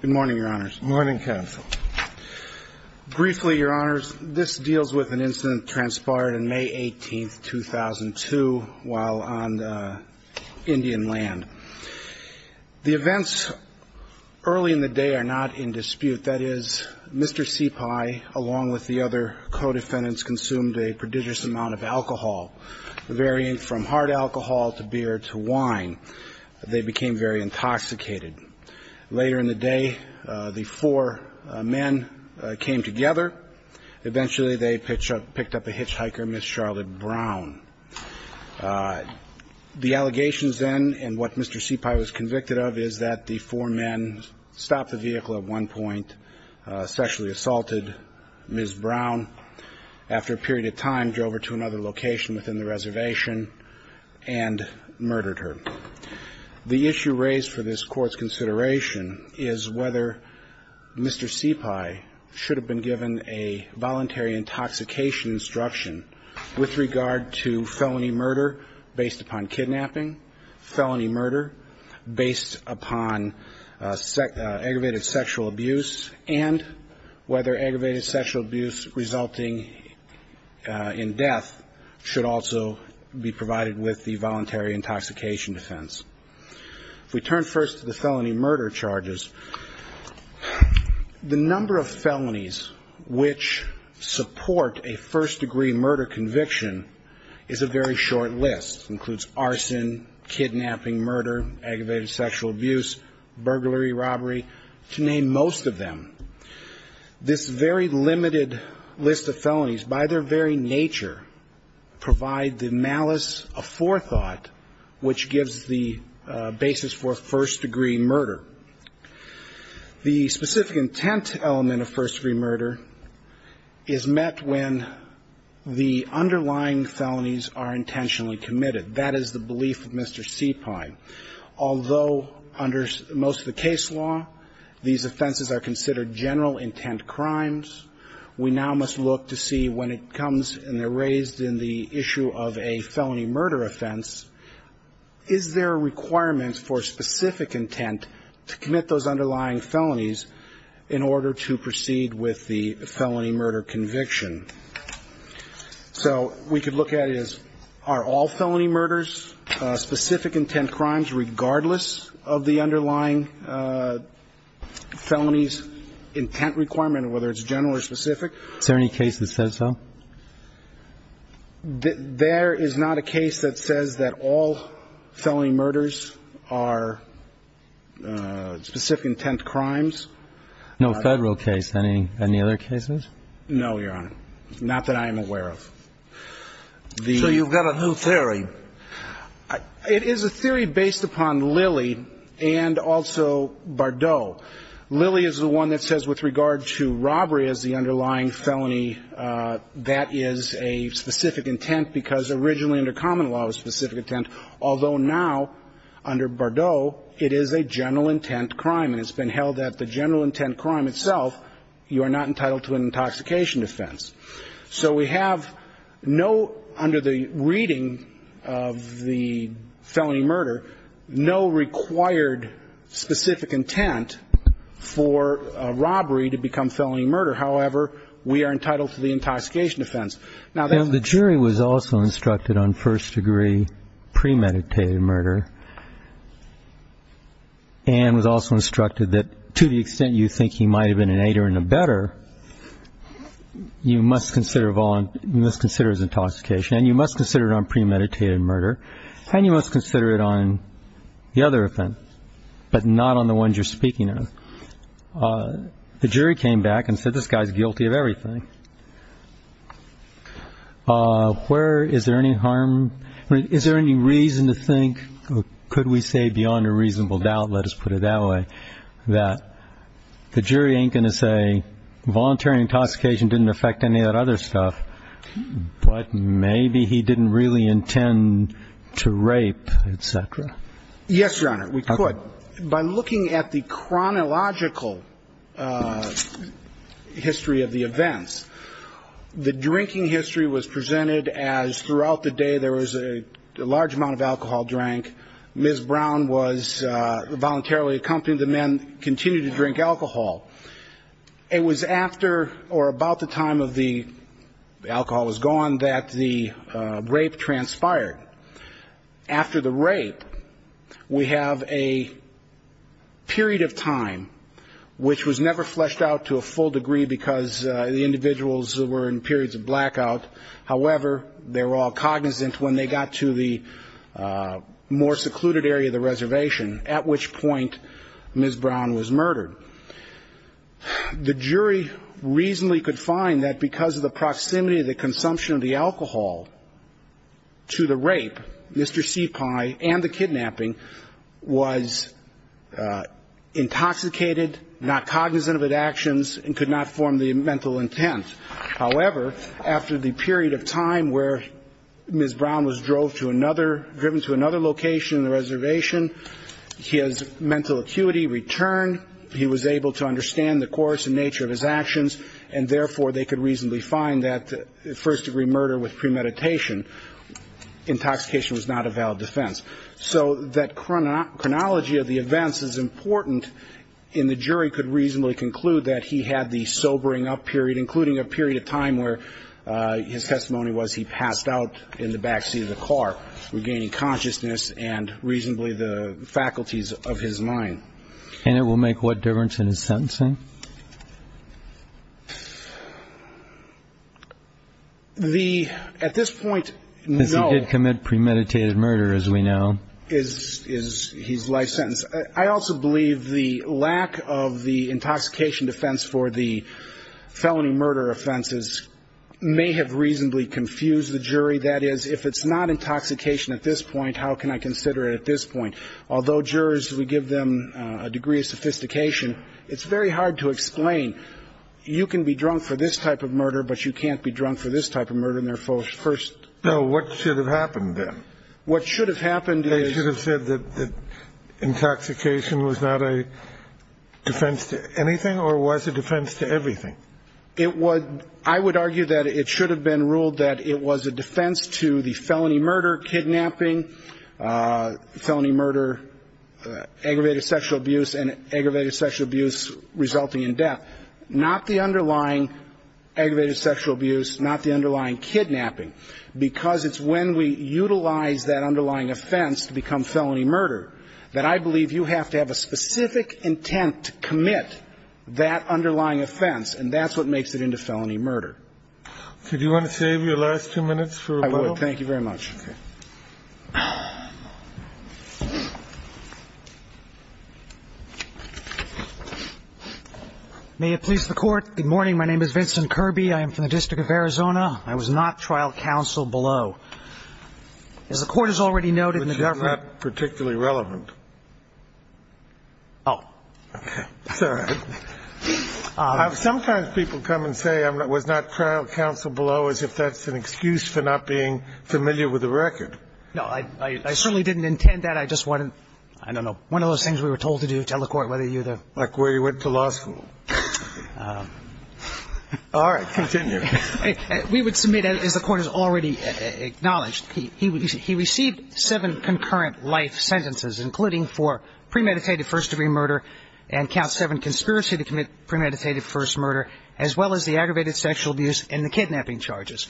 Good morning, Your Honors. Good morning, Counsel. Briefly, Your Honors, this deals with an incident that transpired on May 18, 2002 while on Indian land. The events early in the day are not in dispute. That is, Mr. CEPI, along with the other co-defendants, consumed a prodigious amount of alcohol, varying from hard alcohol to beer to wine. They became very intoxicated. Later in the day, the four men came together. Eventually, they picked up a hitchhiker, Ms. Charlotte Brown. The allegations then, and what Mr. CEPI was convicted of, is that the four men stopped the vehicle at one point, sexually assaulted Ms. Brown. After a period of time, drove her to another location within the reservation, and murdered her. The issue raised for this Court's consideration is whether Mr. CEPI should have been given a voluntary intoxication instruction with regard to felony murder based upon kidnapping, felony murder based upon aggravated sexual abuse, and whether aggravated sexual abuse resulting in death should also be provided with the voluntary intoxication defense. If we turn first to the felony murder charges, the number of felonies which support a first degree murder conviction is a very short list. It includes arson, kidnapping, murder, aggravated sexual abuse, burglary, robbery, to name most of them. This very limited list of felonies, by their very nature, provide the malice of forethought which gives the basis for first degree murder. The specific intent element of first degree murder is met when the underlying felonies are intentionally committed. That is the belief of Mr. CEPI. Although under most of the case law, these offenses are considered general intent crimes, we now must look to see when it comes and they're raised in the issue of a felony murder offense, is there a requirement for specific intent to commit those underlying felonies in order to proceed with the felony murder conviction? So we could look at it as, are all felony murders specific intent crimes regardless of the underlying felonies intent requirement, whether it's general or specific? Is there any case that says so? There is not a case that says that all felony murders are specific intent crimes. No federal case. Any other cases? No, Your Honor. Not that I am aware of. So you've got a new theory. It is a theory based upon Lilly and also Bardot. Lilly is the one that says with regard to robbery as the underlying felony, that is a specific intent because originally under common law it was specific intent, although now under Bardot it is a general intent crime. And it's been held that the general intent crime itself, you are not entitled to an intoxication defense. So we have no, under the reading of the felony murder, no required specific intent for a robbery to become felony murder. However, we are entitled to the intoxication defense. Now the jury was also instructed on first degree premeditated murder and was also instructed that to the extent you think he might have been an aider and a better, you must consider his intoxication and you must consider it on premeditated murder and you must consider it on the other offense, but not on the ones you're speaking of. The jury came back and said this guy is guilty of everything. Where is there any harm, is there any reason to think, could we say beyond a that the jury ain't going to say voluntary intoxication didn't affect any of that other stuff, but maybe he didn't really intend to rape, et cetera? Yes, Your Honor, we could. By looking at the chronological history of the events, the drinking history was presented as throughout the day there was a large amount of alcohol drank. Ms. Brown was voluntarily accompanied, the men continued to drink alcohol. It was after or about the time of the alcohol was gone that the rape transpired. After the rape, we have a period of time which was never fleshed out to a full degree because the individuals were in periods of blackout. However, they were all cognizant when they got to the more secluded area of the reservation, at which point Ms. Brown was murdered. The jury reasonably could find that because of the proximity of the consumption of the alcohol to the rape, Mr. Seepi and the kidnapping was intoxicated, not cognizant of his actions and could not form the mental intent. However, after the period of time where Ms. Brown was driven to another location in the reservation, his mental acuity returned, he was able to understand the course and nature of his actions, and therefore they could reasonably find that first degree murder with premeditation, intoxication was not a valid defense. So that chronology of the events is important and the jury could reasonably conclude that he had the sobering up period, including a period of time where his testimony was he passed out in the backseat of the car, regaining consciousness and reasonably the faculties of his mind. And it will make what difference in his sentencing? The, at this point, no. Because he did commit premeditated murder, as we know. Is his life sentence. I also believe the lack of the intoxication defense for the felony murder offenses may have reasonably confused the jury. That is, if it's not intoxication at this point, how can I consider it at this point? Although jurors, we give them a degree of sophistication. It's very hard to explain. You can be drunk for this type of murder, but you can't be drunk for this type of murder in their first. So what should have happened then? What should have happened is. They should have said that intoxication was not a defense to anything or was a defense to everything? It was, I would argue that it should have been ruled that it was a defense to the felony murder, kidnapping, felony murder, aggravated sexual abuse and aggravated sexual abuse resulting in death. Not the underlying aggravated sexual abuse, not the underlying kidnapping. Because it's when we utilize that underlying offense to become felony murder that I believe you have to have a specific intent to commit that underlying offense. And that's what makes it into felony murder. So do you want to save your last two minutes for a vote? Thank you very much. May it please the Court. Good morning. My name is Vincent Kirby. I am from the District of Arizona. I was not trial counsel below. As the Court has already noted in the government. Particularly relevant. Oh, okay. Sometimes people come and say I was not trial counsel below as if that's an excuse for not being familiar with the record. No, I certainly didn't intend that. I just wanted, I don't know, one of those things we were told to do to tell the Court whether you were there. Like where you went to law school. All right. Continue. We would submit, as the Court has already acknowledged, he received seven concurrent life sentences, including for premeditated first degree murder and count seven for conspiracy to commit premeditated first murder, as well as the aggravated sexual abuse and the kidnapping charges.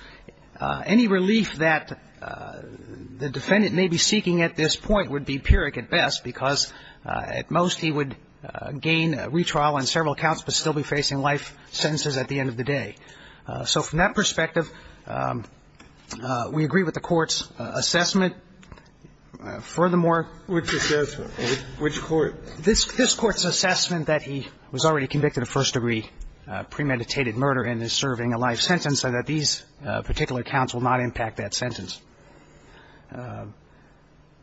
Any relief that the defendant may be seeking at this point would be pyrrhic at best because at most he would gain a retrial on several counts but still be facing life sentences at the end of the day. So from that perspective, we agree with the Court's assessment. Furthermore. Which assessment? Which Court? This Court's assessment that he was already convicted of first degree premeditated murder and is serving a life sentence, so that these particular counts will not impact that sentence.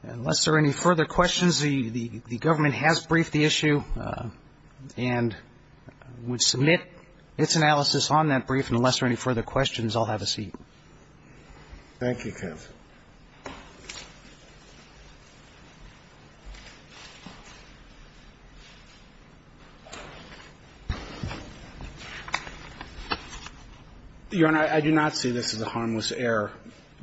Unless there are any further questions, the Government has briefed the issue and would submit its analysis on that brief. And unless there are any further questions, I'll have a seat. Thank you, counsel. Your Honor, I do not see this as a harmless error,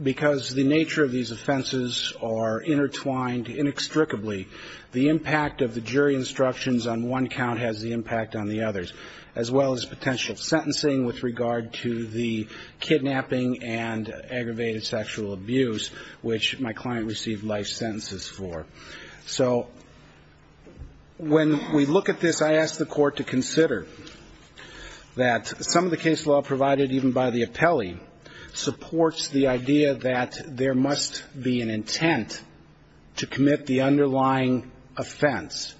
because the nature of these offenses are intertwined inextricably. The impact of the jury instructions on one count has the impact on the others, as well as potential sentencing with regard to the kidnapping and aggravated sexual abuse, which my client received life sentences for. So when we look at this, I ask the Court to consider that some of the case law provided even by the appellee supports the idea that there must be an intent to commit the underlying offense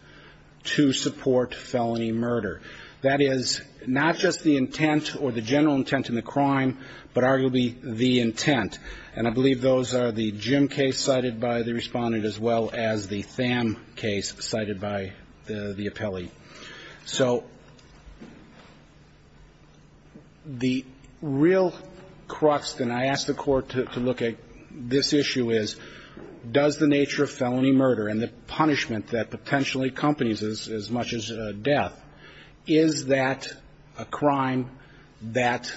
to support felony murder. That is not just the intent or the general intent in the crime, but arguably the intent. And I believe those are the Jim case cited by the Respondent, as well as the Tham case cited by the appellee. So the real crux, and I ask the Court to look at this issue, is does the nature of felony murder and the punishment that potentially accompanies as much as death, is that a crime that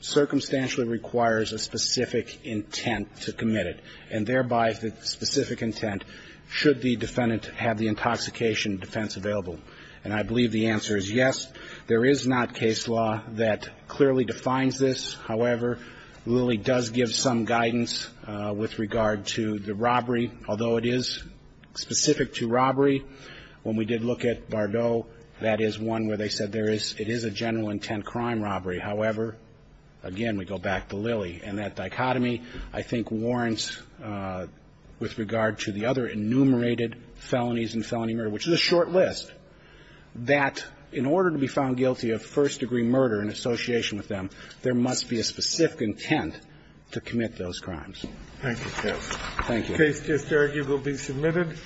circumstantially requires a specific intent to commit it, and thereby the specific intent should the defendant have the intoxication defense available? And I believe the answer is yes. There is not case law that clearly defines this. However, Lilly does give some guidance with regard to the robbery, although it is specific to robbery. When we did look at Bardot, that is one where they said there is – it is a general intent crime robbery. However, again, we go back to Lilly, and that dichotomy, I think, warrants with regard to the other enumerated felonies in felony murder, which is a short list, that in order to be found guilty of first-degree murder in association with them, there must be a specific intent to commit those crimes. Thank you, Judge. Thank you. The case just argued will be submitted.